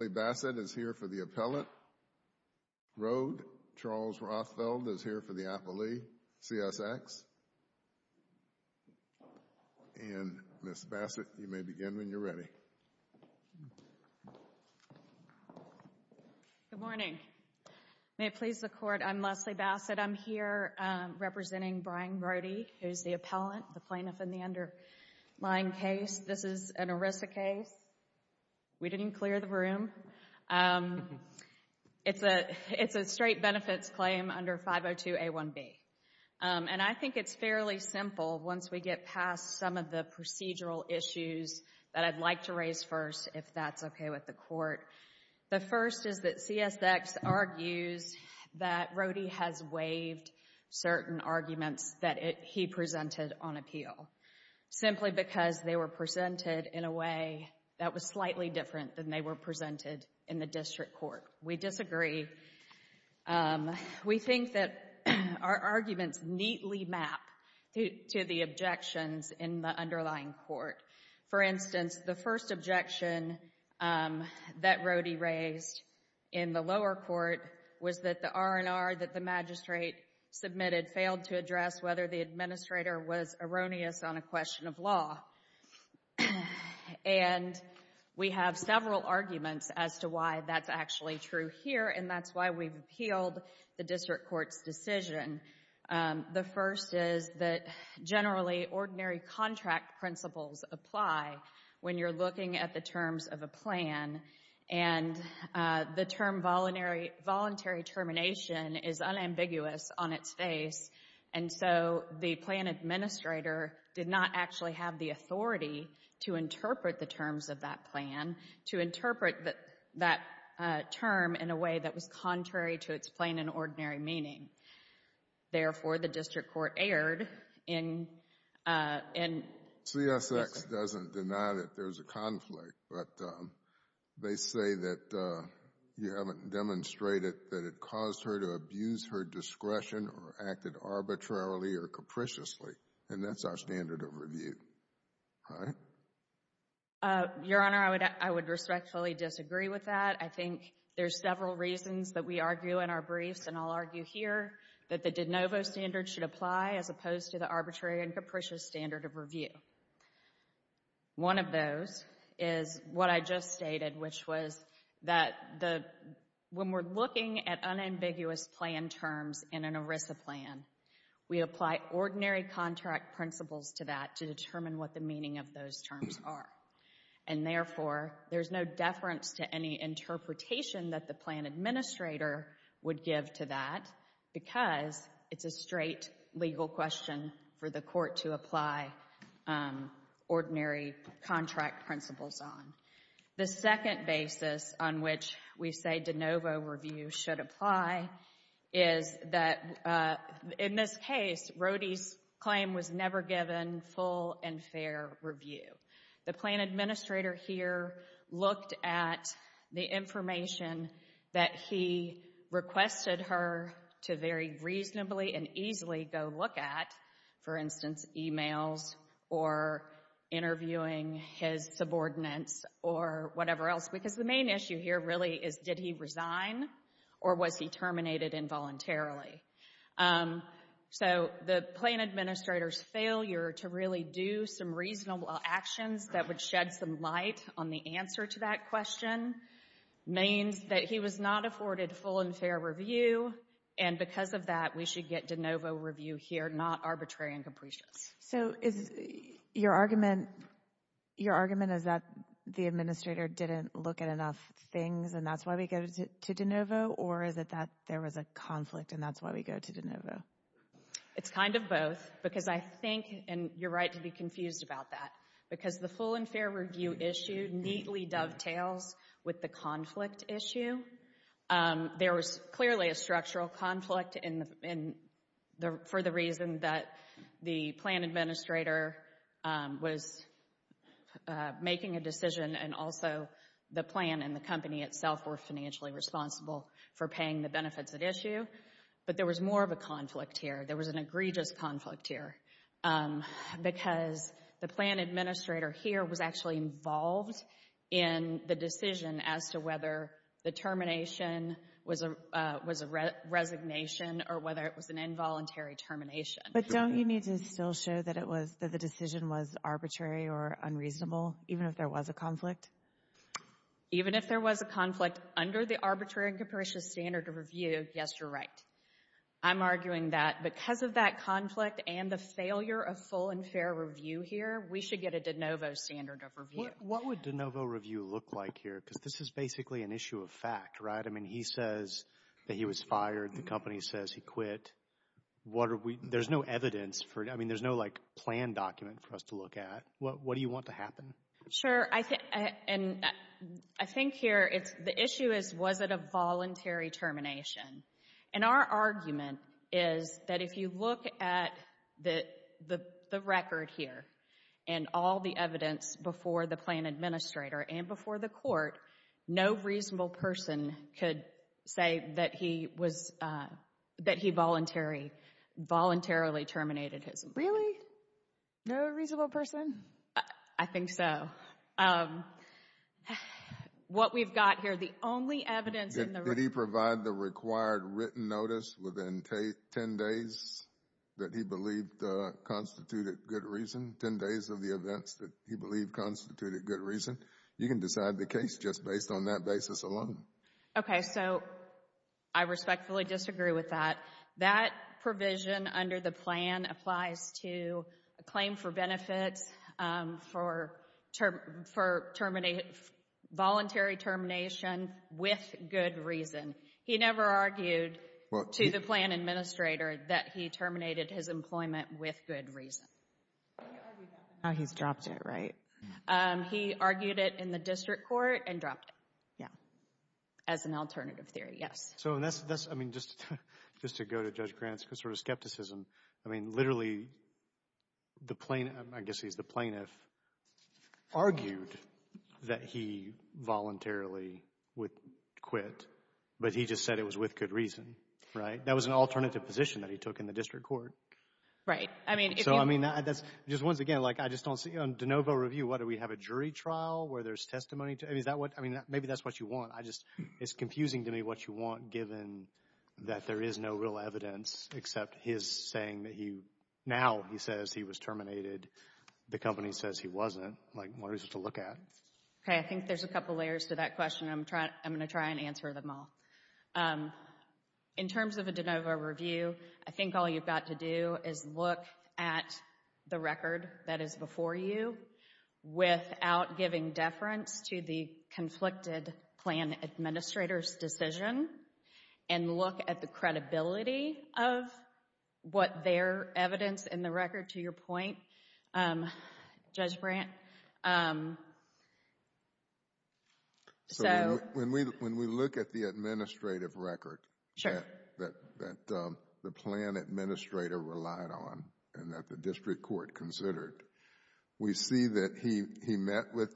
Leslie Bassett is here for the appellate. Rhode, Charles Rothfeld, is here for the appellee, CSX, and Ms. Bassett, you may begin when you're ready. Good morning. May it please the Court, I'm Leslie Bassett. I'm here representing Brian Rhodey, who's the appellant, the plaintiff in the underlying case. This is an ERISA case. We didn't clear the room. It's a straight benefits claim under 502A1B. And I think it's fairly simple once we get past some of the procedural issues that I'd like to raise first, if that's okay with the Court. The first is that CSX argues that Rhodey has waived certain arguments that he presented on appeal, simply because they were presented in a way that was slightly different than they were presented in the district court. We disagree. We think that our arguments neatly map to the objections in the underlying court. For instance, the first objection that Rhodey raised in the lower court was that the R&R that the magistrate submitted failed to address whether the administrator was erroneous on a question of law. And we have several arguments as to why that's actually true here, and that's why we've appealed the district court's decision. The first is that generally, ordinary contract principles apply when you're looking at the terms of a plan. And the term voluntary termination is unambiguous on its face, and so the plan administrator did not actually have the authority to interpret the terms of that plan, to interpret that term in a way that was contrary to its plain and ordinary meaning. Therefore, the district court erred in... CSX doesn't deny that there's a conflict, but they say that you haven't demonstrated that it caused her to abuse her discretion or act arbitrarily or capriciously, and that's our standard of review, right? Your Honor, I would respectfully disagree with that. I think there's several reasons that we argue in our briefs, and I'll argue here, that the One of those is what I just stated, which was that when we're looking at unambiguous plan terms in an ERISA plan, we apply ordinary contract principles to that to determine what the meaning of those terms are. And therefore, there's no deference to any interpretation that the plan administrator would give to that, because it's a straight legal question for the court to apply ordinary contract principles on. The second basis on which we say de novo review should apply is that in this case, Rhodey's claim was never given full and fair review. The plan administrator here looked at the information that he requested her to very reasonably and easily go look at, for instance, emails or interviewing his subordinates or whatever else, because the main issue here really is, did he resign or was he terminated involuntarily? So the plan administrator's failure to really do some reasonable actions that would shed some light on the answer to that question means that he was not afforded full and fair review, and because of that, we should get de novo review here, not arbitrary and capricious. So is your argument, your argument is that the administrator didn't look at enough things and that's why we go to de novo, or is it that there was a conflict and that's why we go to de novo? It's kind of both, because I think, and you're right to be confused about that, because the full and fair review issue neatly dovetails with the conflict issue. There was clearly a structural conflict for the reason that the plan administrator was making a decision and also the plan and the company itself were financially responsible for paying the benefits at issue, but there was more of a conflict here. There was an egregious conflict here, because the plan administrator here was actually involved in the decision as to whether the termination was a resignation or whether it was an involuntary termination. But don't you need to still show that it was, that the decision was arbitrary or unreasonable, even if there was a conflict? Even if there was a conflict under the arbitrary and capricious standard of review, yes, you're right. I'm arguing that because of that conflict and the failure of full and fair review here, we should get a de novo standard of review. What would de novo review look like here? Because this is basically an issue of fact, right? I mean, he says that he was fired. The company says he quit. What are we, there's no evidence for it. I mean, there's no, like, plan document for us to look at. What do you want to happen? Sure. And I think here it's, the issue is, was it a voluntary termination? And our argument is that if you look at the record here and all the evidence before the plan administrator and before the court, no reasonable person could say that he was, that he voluntary, voluntarily terminated his. Really? No reasonable person? I think so. What we've got here, the only evidence in the. Did he provide the required written notice within 10 days that he believed constituted good reason, 10 days of the events that he believed constituted good reason? You can decide the case just based on that basis alone. Okay. So, I respectfully disagree with that. That provision under the plan applies to a claim for benefits for term, for terminating, voluntary termination with good reason. He never argued to the plan administrator that he terminated his employment with good reason. Now he's dropped it, right? He argued it in the district court and dropped it. Yeah. As an alternative theory, yes. So, that's, I mean, just to go to Judge Grant's sort of skepticism. I mean, literally, the plaintiff, I guess he's the plaintiff, argued that he voluntarily would quit, but he just said it was with good reason, right? That was an alternative position that he took in the district court. Right. I mean, if you. So, I mean, that's, just once again, like, I just don't see, on de novo review, what, do we have a jury trial where there's testimony to it? Is that what, I mean, maybe that's what you want. It's confusing to me what you want, given that there is no real evidence except his saying that he, now he says he was terminated. The company says he wasn't. Like, what is it to look at? Okay. I think there's a couple layers to that question. I'm going to try and answer them all. In terms of a de novo review, I think all you've got to do is look at the record that conflicted plan administrator's decision and look at the credibility of what their evidence in the record, to your point, Judge Brandt. So. When we look at the administrative record. Sure. That the plan administrator relied on and that the district court considered, we see that he, he met with,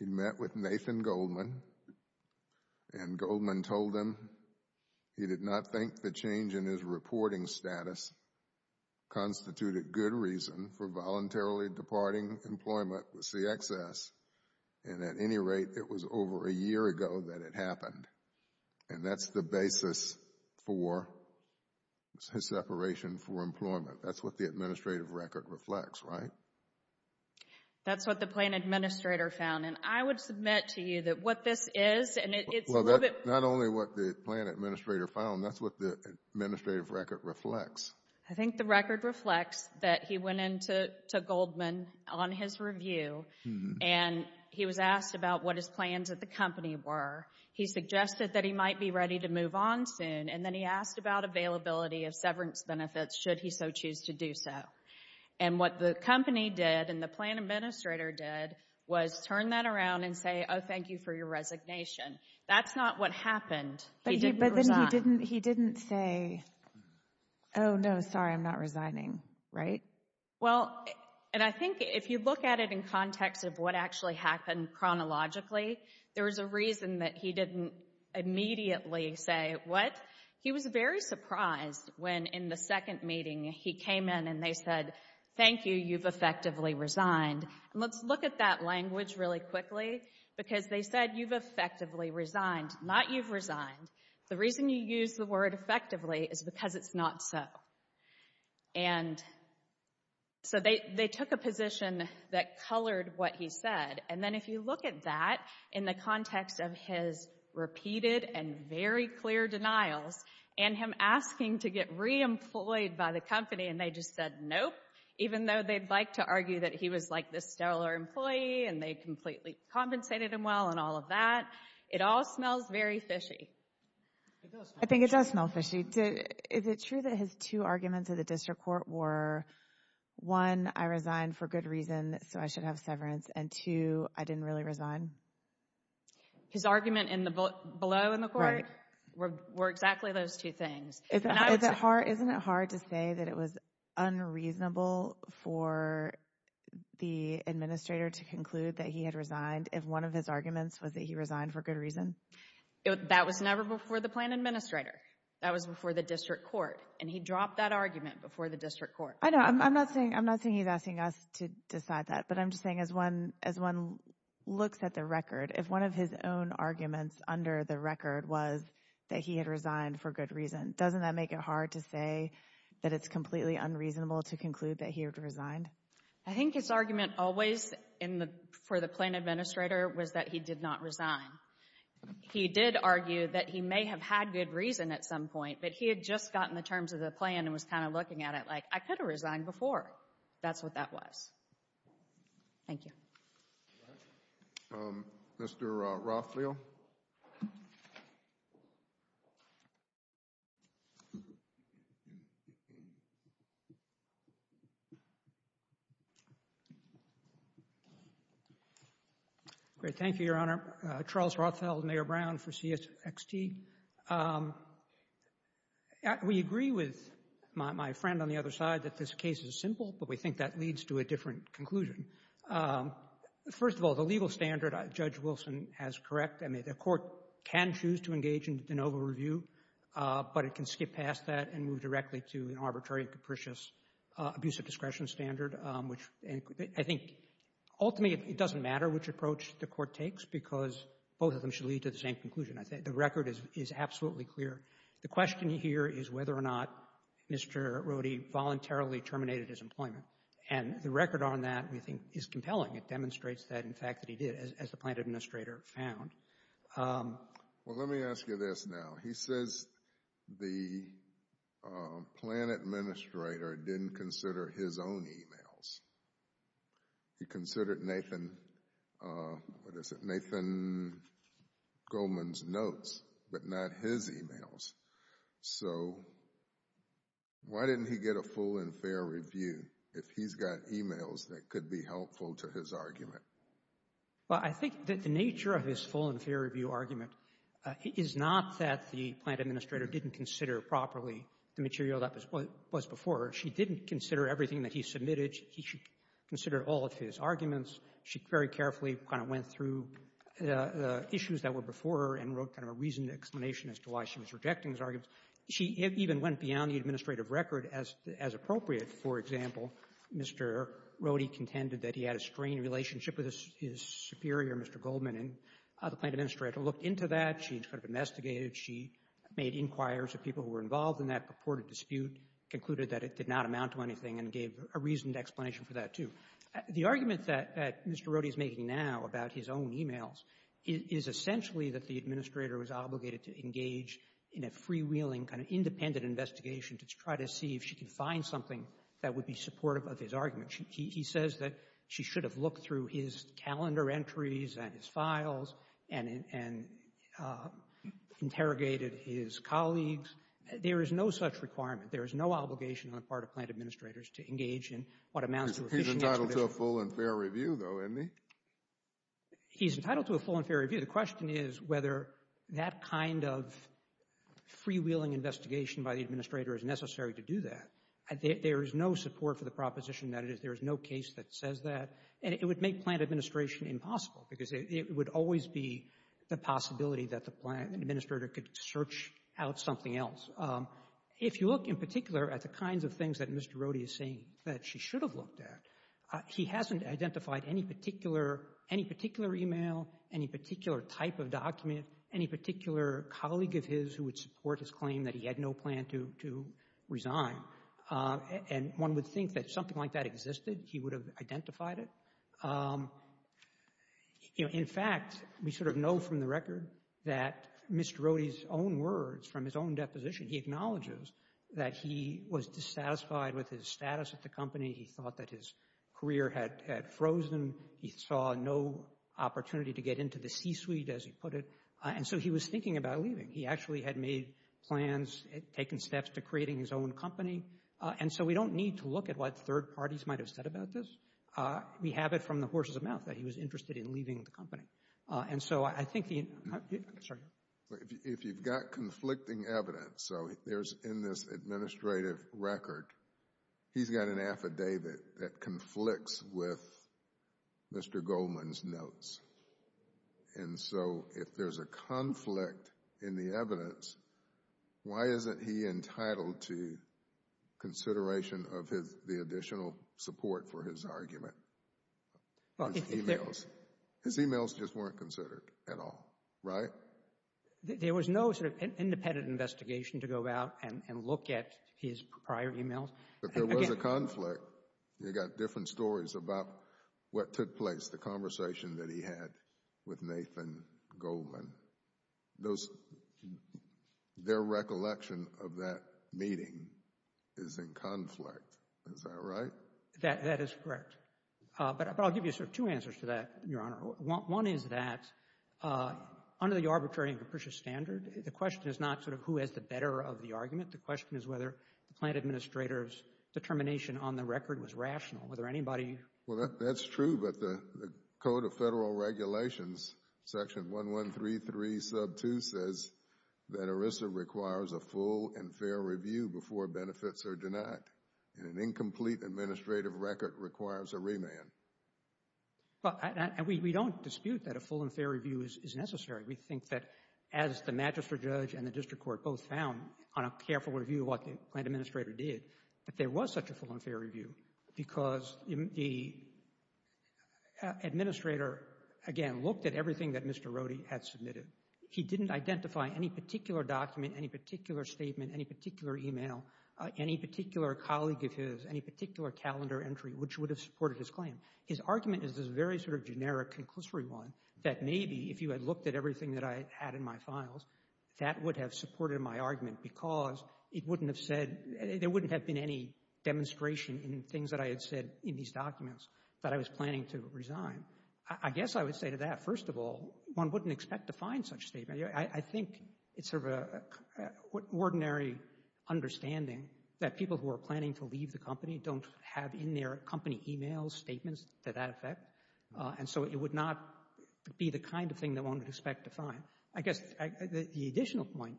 he met with Nathan Goldman and Goldman told him he did not think the change in his reporting status constituted good reason for voluntarily departing employment with CXS. And at any rate, it was over a year ago that it happened. And that's the basis for his separation for employment. That's what the administrative record reflects, right? That's what the plan administrator found. And I would submit to you that what this is, and it's a little bit. Not only what the plan administrator found, that's what the administrative record reflects. I think the record reflects that he went into, to Goldman on his review. And he was asked about what his plans at the company were. He suggested that he might be ready to move on soon. And then he asked about availability of severance benefits, should he so choose to do so. And what the company did and the plan administrator did was turn that around and say, oh, thank you for your resignation. That's not what happened. But then he didn't, he didn't say, oh, no, sorry, I'm not resigning, right? Well, and I think if you look at it in context of what actually happened chronologically, there was a reason that he didn't immediately say what. He was very surprised when in the second meeting he came in and they said, thank you, you've effectively resigned. And let's look at that language really quickly, because they said you've effectively resigned, not you've resigned. The reason you use the word effectively is because it's not so. And so they took a position that colored what he said. And then if you look at that in the context of his repeated and very clear denials and him asking to get reemployed by the company, and they just said, nope, even though they'd like to argue that he was like this stellar employee and they completely compensated him well and all of that. It all smells very fishy. I think it does smell fishy. Is it true that his two arguments at the district court were, one, I resigned for good reason, so I should have severance. And two, I didn't really resign? His argument below in the court were exactly those two things. Isn't it hard to say that it was unreasonable for the administrator to conclude that he had resigned if one of his arguments was that he resigned for good reason? That was never before the plan administrator. That was before the district court. And he dropped that argument before the district court. I know. I'm not saying he's asking us to decide that. I'm just saying as one looks at the record, if one of his own arguments under the record was that he had resigned for good reason, doesn't that make it hard to say that it's completely unreasonable to conclude that he had resigned? I think his argument always for the plan administrator was that he did not resign. He did argue that he may have had good reason at some point, but he had just gotten the terms of the plan and was kind of looking at it like, I could have resigned before. That's what that was. Thank you. Mr. Rothfield. Great. Thank you, Your Honor. Charles Rothfield, Mayor Brown for CXT. We agree with my friend on the other side that this case is simple, but we think that leads to a different conclusion. First of all, the legal standard Judge Wilson has correct. I mean, the court can choose to engage in de novo review, but it can skip past that and move directly to an arbitrary, capricious, abusive discretion standard, which I think ultimately it doesn't matter which approach the court takes because both of them should lead to the same conclusion. I think the record is absolutely clear. The question here is whether or not Mr. Roddy voluntarily terminated his employment. And the record on that we think is compelling. It demonstrates that, in fact, that he did as the plan administrator found. Well, let me ask you this now. He says the plan administrator didn't consider his own emails. He considered Nathan, what is it, Nathan Goldman's notes, but not his emails. So why didn't he get a full and fair review if he's got emails that could be helpful to his argument? Well, I think that the nature of his full and fair review argument is not that the plan administrator didn't consider properly the material that was before. She didn't consider everything that he submitted. He should consider all of his arguments. She very carefully kind of went through the issues that were before and wrote kind of a reasoned explanation as to why she was rejecting his arguments. She even went beyond the administrative record as appropriate. For example, Mr. Roddy contended that he had a strained relationship with his superior, Mr. Goldman, and the plan administrator looked into that. She kind of investigated. She made inquires of people who were involved in that purported dispute, concluded that it did not amount to anything, and gave a reasoned explanation for that, too. The argument that Mr. Roddy is making now about his own emails is essentially that the administrator was obligated to engage in a freewheeling, kind of independent investigation to try to see if she could find something that would be supportive of his argument. He says that she should have looked through his calendar entries and his files and interrogated his colleagues. There is no such requirement. There is no obligation on the part of plan administrators to engage in what amounts to a He's entitled to a full and fair review, though, isn't he? He's entitled to a full and fair review. The question is whether that kind of freewheeling investigation by the administrator is necessary to do that. There is no support for the proposition that it is. There is no case that says that. And it would make plan administration impossible, because it would always be the possibility that the plan administrator could search out something else. If you look in particular at the kinds of things that Mr. Roddy is saying that she should have looked at, he hasn't identified any particular email, any particular type of document, any particular colleague of his who would support his claim that he had no plan to resign. And one would think that if something like that existed, he would have identified it. In fact, we sort of know from the record that Mr. Roddy's own words from his own deposition, he acknowledges that he was dissatisfied with his status at the company. He thought that his career had frozen. He saw no opportunity to get into the C-suite, as he put it. And so he was thinking about leaving. He actually had made plans, taken steps to creating his own company. And so we don't need to look at what third parties might have said about this. We have it from the horse's mouth that he was interested in leaving the company. And so I think he... If you've got conflicting evidence, so there's in this administrative record, he's got an affidavit that conflicts with Mr. Goldman's notes. And so if there's a conflict in the evidence, why isn't he entitled to consideration of the additional support for his argument? His emails just weren't considered at all, right? There was no sort of independent investigation to go about and look at his prior emails. But there was a conflict. You got different stories about what took place, the conversation that he had with Nathan Goldman. Their recollection of that meeting is in conflict. Is that right? That is correct. But I'll give you sort of two answers to that, Your Honor. One is that under the arbitrary and capricious standard, the question is not sort of who has the better of the argument. The question is whether the plant administrator's determination on the record was rational. Whether anybody... Well, that's true. But the Code of Federal Regulations, section 1133 sub 2, says that ERISA requires a full and fair review before benefits are denied. And an incomplete administrative record requires a remand. But we don't dispute that a full and fair review is necessary. We think that as the magistrate judge and the district court both found, on a careful review of what the plant administrator did, that there was such a full and fair review because the administrator, again, looked at everything that Mr. Rohde had submitted. He didn't identify any particular document, any particular statement, any particular email, any particular colleague of his, any particular calendar entry, which would have supported his argument as this very sort of generic conclusory one that maybe if you had looked at everything that I had in my files, that would have supported my argument because it wouldn't have said, there wouldn't have been any demonstration in things that I had said in these documents that I was planning to resign. I guess I would say to that, first of all, one wouldn't expect to find such statement. I think it's sort of an ordinary understanding that people who are planning to leave the company don't have in their company emails statements to that effect. And so it would not be the kind of thing that one would expect to find. I guess the additional point,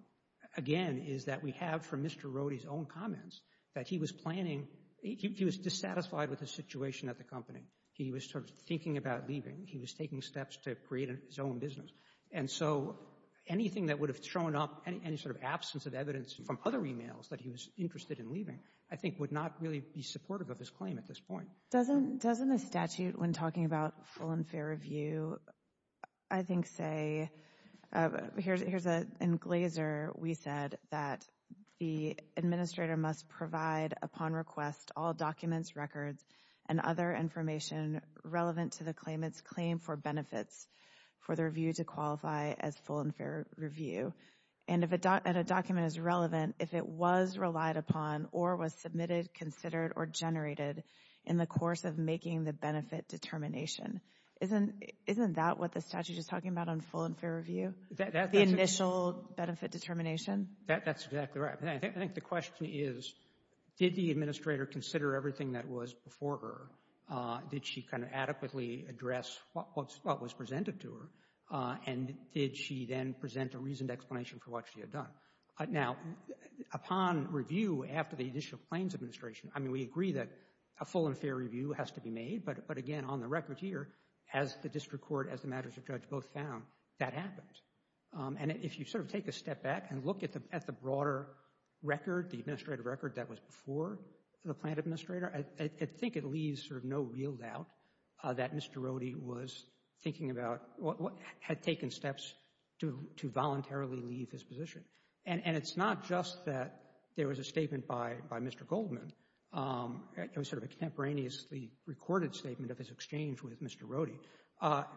again, is that we have from Mr. Rohde's own comments that he was planning he was dissatisfied with the situation at the company. He was sort of thinking about leaving. He was taking steps to create his own business. And so anything that would have thrown up any sort of absence of evidence from other emails that he was interested in leaving, I think would not really be supportive of his claim at this point. Doesn't the statute, when talking about full and fair review, I think say, here's an englazer, we said that the administrator must provide upon request all documents, records, and other information relevant to the claimant's claim for benefits for the review to qualify as full and fair review. And if a document is relevant, if it was relied upon or was submitted, considered, or generated in the course of making the benefit determination, isn't that what the statute is talking about on full and fair review? The initial benefit determination? That's exactly right. I think the question is, did the administrator consider everything that was before her? Did she kind of adequately address what was presented to her? And did she then present a reasoned explanation for what she had done? Now, upon review after the initial claims administration, I mean, we agree that a full and fair review has to be made, but again, on the record here, as the district court, as the magistrate judge both found, that happened. And if you sort of take a step back and look at the broader record, the administrative record that was before the plaintiff administrator, I think it leaves sort of no real doubt that Mr. Rohde was thinking about, had taken steps to voluntarily leave his position. And it's not just that there was a statement by Mr. Goldman. It was sort of a contemporaneously recorded statement of his exchange with Mr. Rohde.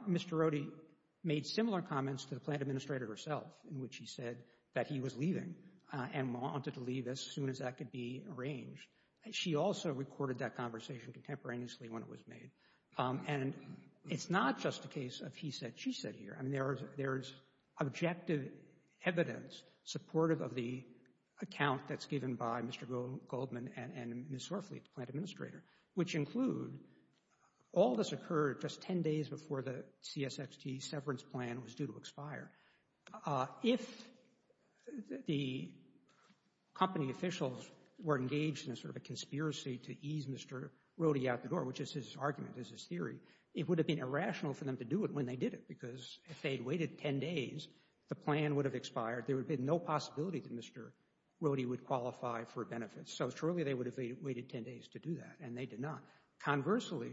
Mr. Rohde made similar comments to the plaintiff administrator herself, in which he said that he was leaving and wanted to leave as soon as that could be arranged. She also recorded that conversation contemporaneously when it was made. And it's not just a case of he said, she said here. I mean, there is objective evidence supportive of the account that's given by Mr. Goldman and Ms. Swerfleet, the plaintiff administrator, which include all this occurred just 10 days before the CSXT severance plan was due to expire. If the company officials were engaged in sort of a conspiracy to ease Mr. Rohde out the door, which is his argument, is his theory, it would have been irrational for them to do it when they did it. Because if they'd waited 10 days, the plan would have expired. There would have been no possibility that Mr. Rohde would qualify for benefits. So surely they would have waited 10 days to do that. And they did not. Conversely,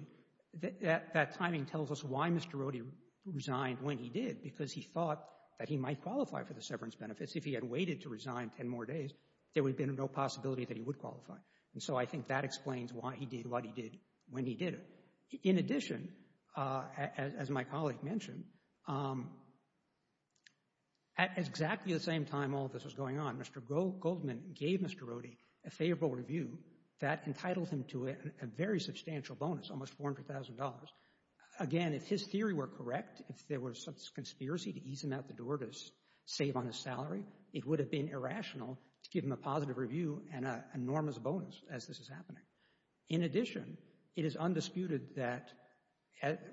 that timing tells us why Mr. Rohde resigned when he did. Because he thought that he might qualify for the severance benefits. If he had waited to resign 10 more days, there would have been no possibility that he would qualify. And so I think that explains why he did what he did when he did it. In addition, as my colleague mentioned, at exactly the same time all this was going on, Mr. Goldman gave Mr. Rohde a favorable review that entitled him to a very substantial bonus, almost $400,000. Again, if his theory were correct, if there was some conspiracy to ease him out the door to save on his salary, it would have been irrational to give him a positive review and an enormous bonus as this is happening. In addition, it is undisputed that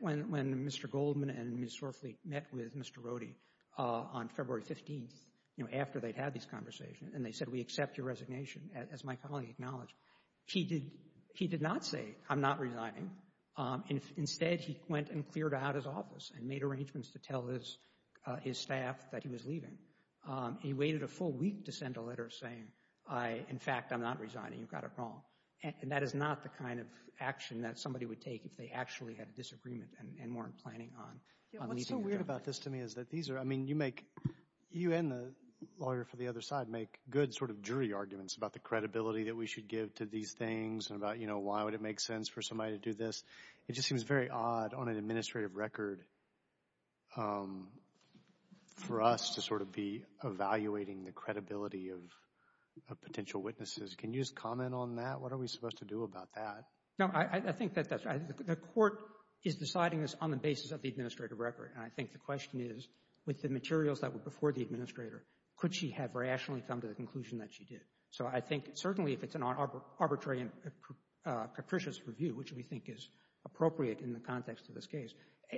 when Mr. Goldman and Ms. Swarfleet met with Mr. Rohde on February 15th, you know, after they'd had this conversation, and they said, we accept your resignation, as my colleague acknowledged, he did not say, I'm not resigning. Instead, he went and cleared out his office and made arrangements to tell his staff that he was leaving. He waited a full week to send a letter saying, I, in fact, I'm not resigning, you've got it wrong. And that is not the kind of action that somebody would take if they actually had a disagreement and weren't planning on leaving the job. Yeah, what's so weird about this to me is that these are, I mean, you make, you and the lawyer for the other side, make good sort of jury arguments about the credibility that we should give to these things and about, you know, why would it make sense for somebody to do this? It just seems very odd on an administrative record for us to sort of be evaluating the credibility of potential witnesses. Can you just comment on that? What are we supposed to do about that? No, I think that the Court is deciding this on the basis of the administrative record. And I think the question is, with the materials that were before the administrator, could she have rationally come to the conclusion that she did? So I think certainly if it's an arbitrary and capricious review, which we think is appropriate in the context of this case,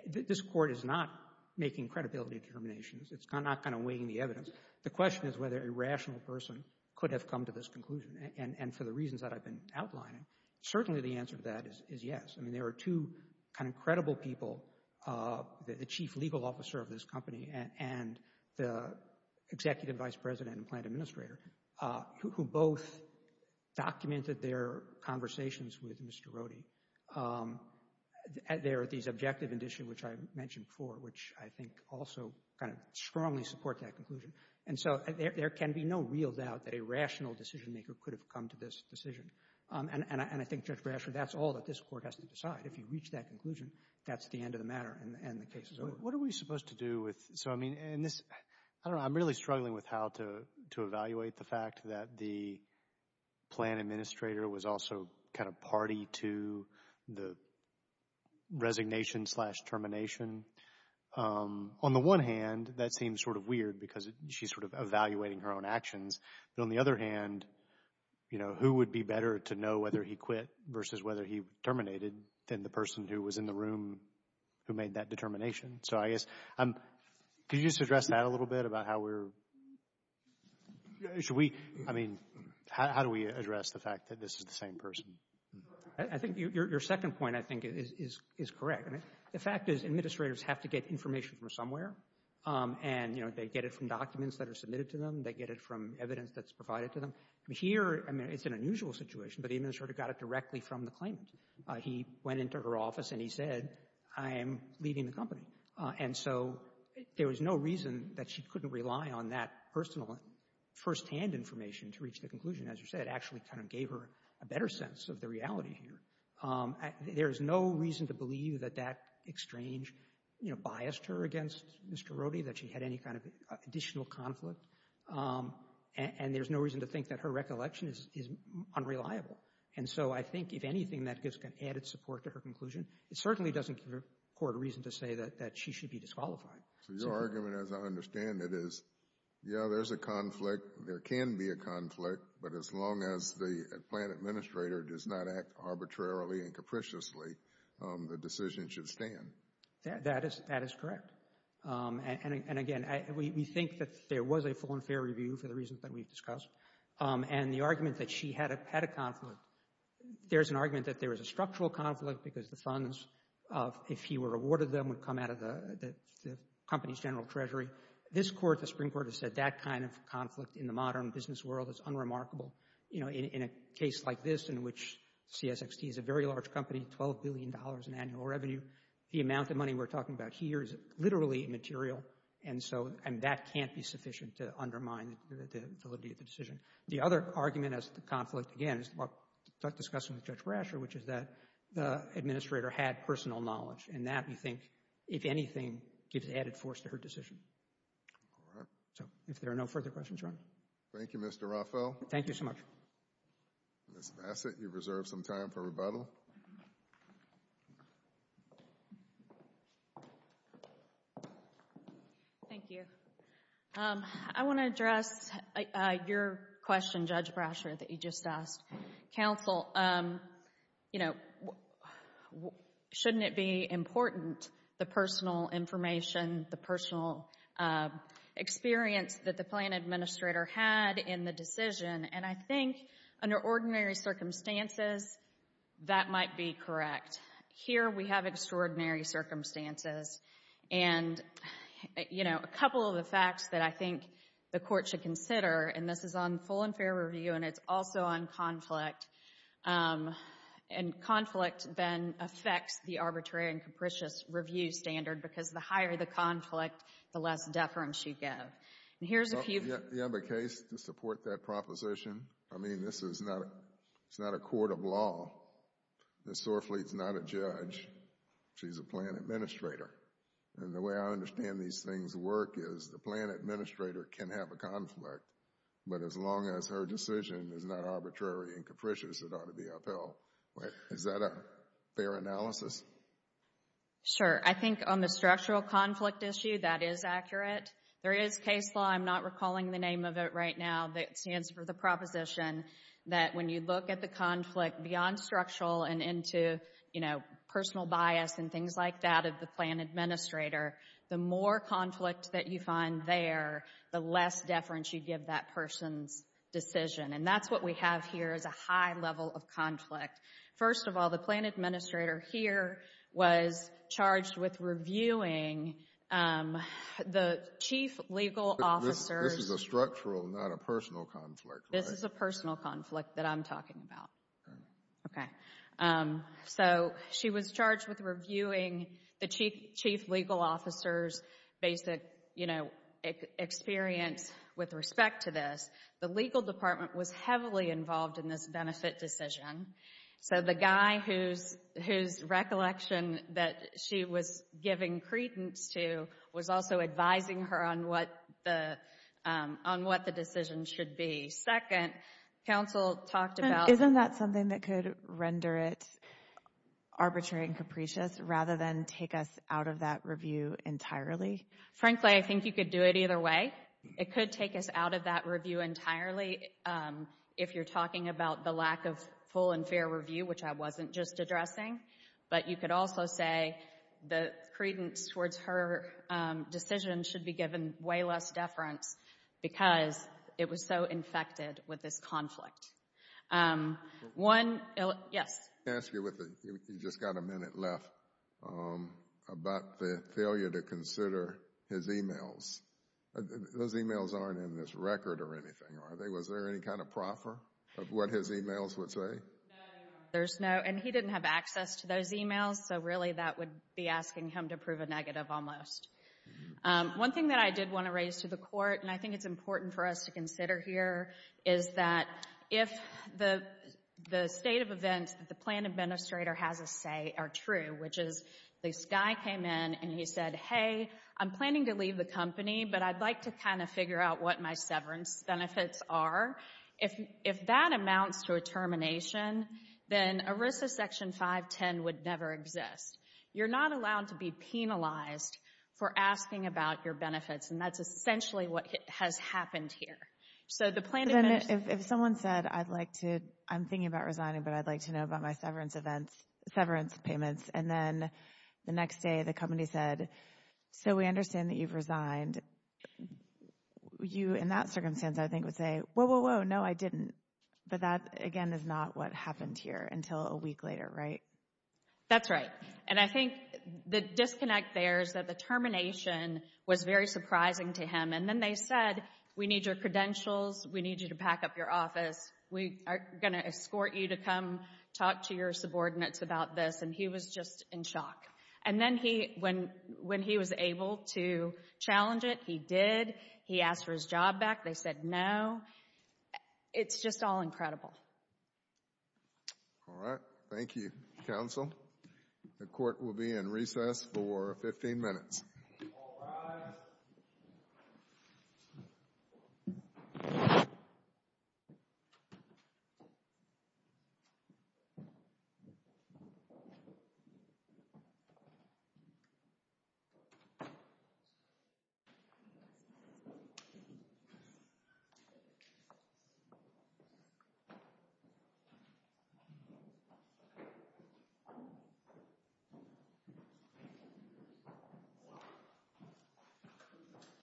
this Court is not making credibility determinations. It's not kind of weighing the evidence. The question is whether a rational person could have come to this conclusion. And for the reasons that I've been outlining, certainly the answer to that is yes. I mean, there are two kind of credible people, the chief legal officer of this company and the executive vice president and plant administrator, who both documented their conversations with Mr. Rohde. There are these objective indicia, which I mentioned before, which I think also kind of strongly support that conclusion. And so there can be no real doubt that a rational decision-maker could have come to this decision. And I think, Judge Brashford, that's all that this Court has to decide. If you reach that conclusion, that's the end of the matter and the case is over. What are we supposed to do with, so I mean, in this, I don't know, I'm really struggling with how to evaluate the fact that the plant administrator was also kind of party to the resignation slash termination. On the one hand, that seems sort of weird because she's sort of evaluating her own actions. But on the other hand, you know, who would be better to know whether he quit versus whether he terminated than the person who was in the room who made that determination? So I guess, could you just address that a little bit about how we're, should we, I mean, how do we address the fact that this is the same person? I think your second point, I think, is correct. The fact is, administrators have to get information from somewhere. And, you know, they get it from documents that are submitted to them. They get it from evidence that's provided to them. Here, I mean, it's an unusual situation, but the administrator got it directly from the claimant. He went into her office and he said, I am leaving the company. And so there was no reason that she couldn't rely on that personal firsthand information to reach the conclusion. As you said, it actually kind of gave her a better sense of the reality here. There is no reason to believe that that exchange, you know, biased her against Mr. Rohde, that she had any kind of additional conflict. And there's no reason to think that her recollection is unreliable. And so I think, if anything, that gives an added support to her conclusion. It certainly doesn't give the Court a reason to say that she should be disqualified. So your argument, as I understand it, is, yeah, there's a conflict. There can be a conflict. But as long as the plant administrator does not act arbitrarily and capriciously, the decision should stand. That is correct. And again, we think that there was a full and fair review for the reasons that we've discussed. And the argument that she had a conflict, there's an argument that there was a structural conflict because the funds, if he were awarded them, would come out of the company's general treasury. This Court, the Supreme Court has said that kind of conflict in the modern business world is unremarkable. You know, in a case like this, in which CSXT is a very large company, $12 billion in annual revenue, the amount of money we're talking about here is literally immaterial. And so, and that can't be sufficient to undermine the validity of the decision. The other argument as to the conflict, again, is what we discussed with Judge Brasher, which is that the administrator had personal knowledge. And that, we think, if anything, gives added force to her decision. All right. So, if there are no further questions, Your Honor. Thank you, Mr. Raffel. Thank you so much. Ms. Bassett, you've reserved some time for rebuttal. Thank you. I want to address your question, Judge Brasher, that you just asked. Counsel, you know, shouldn't it be important, the personal information, the personal experience that the plan administrator had in the decision? And I think, under ordinary circumstances, that might be correct. Here, we have extraordinary circumstances. And, you know, a couple of the facts that I think the Court should consider, and this is on full and fair review, and it's also on conflict. And conflict, then, affects the arbitrary and capricious review standard, because the higher the conflict, the less deference you give. And here's a few- You have a case to support that proposition? I mean, this is not, it's not a court of law. Ms. Sorfleet's not a judge. She's a plan administrator. And the way I understand these things work is, the plan administrator can have a conflict. But as long as her decision is not arbitrary and capricious, it ought to be upheld. Is that a fair analysis? Sure. I think on the structural conflict issue, that is accurate. There is case law, I'm not recalling the name of it right now, that stands for the proposition that when you look at the conflict beyond structural and into, you know, personal bias and things like that of the plan administrator, the more conflict that you find there, the less deference you give that person's decision. And that's what we have here is a high level of conflict. First of all, the plan administrator here was charged with reviewing the chief legal officers- This is a structural, not a personal conflict, right? This is a personal conflict that I'm talking about. Okay. So she was charged with reviewing the chief legal officer's basic, you know, experience with respect to this. The legal department was heavily involved in this benefit decision. So the guy whose recollection that she was giving credence to was also advising her on what the decision should be. Second, counsel talked about- Isn't that something that could render it take us out of that review entirely? Frankly, I think you could do it either way. It could take us out of that review entirely. If you're talking about the lack of full and fair review, which I wasn't just addressing, but you could also say the credence towards her decision should be given way less deference because it was so infected with this conflict. One- Yes. Can I ask you, you just got a minute left, about the failure to consider his emails. Those emails aren't in this record or anything, are they? Was there any kind of proffer of what his emails would say? No, there's no- And he didn't have access to those emails, so really that would be asking him to prove a negative almost. One thing that I did want to raise to the court, and I think it's important for us to consider here, is that if the state of events the plan administrator has a say are true, which is this guy came in and he said, hey, I'm planning to leave the company, but I'd like to kind of figure out what my severance benefits are. If that amounts to a termination, then ERISA Section 510 would never exist. You're not allowed to be penalized for asking about your benefits, and that's essentially what has happened here. So the plan administrator- If someone said, I'm thinking about resigning, but I'd like to know about my severance payments, and then the next day the company said, so we understand that you've resigned. You, in that circumstance, I think would say, whoa, whoa, whoa, no, I didn't. But that, again, is not what happened here until a week later, right? That's right, and I think the disconnect there is that the termination was very surprising to him, and then they said, we need your credentials, we need you to pack up your office, we are going to escort you to come talk to your subordinates about this, and he was just in shock. And then he, when he was able to challenge it, he did, he asked for his job back, they said no. It's just all incredible. All right, thank you, counsel. The court will be in recess for 15 minutes. Thank you.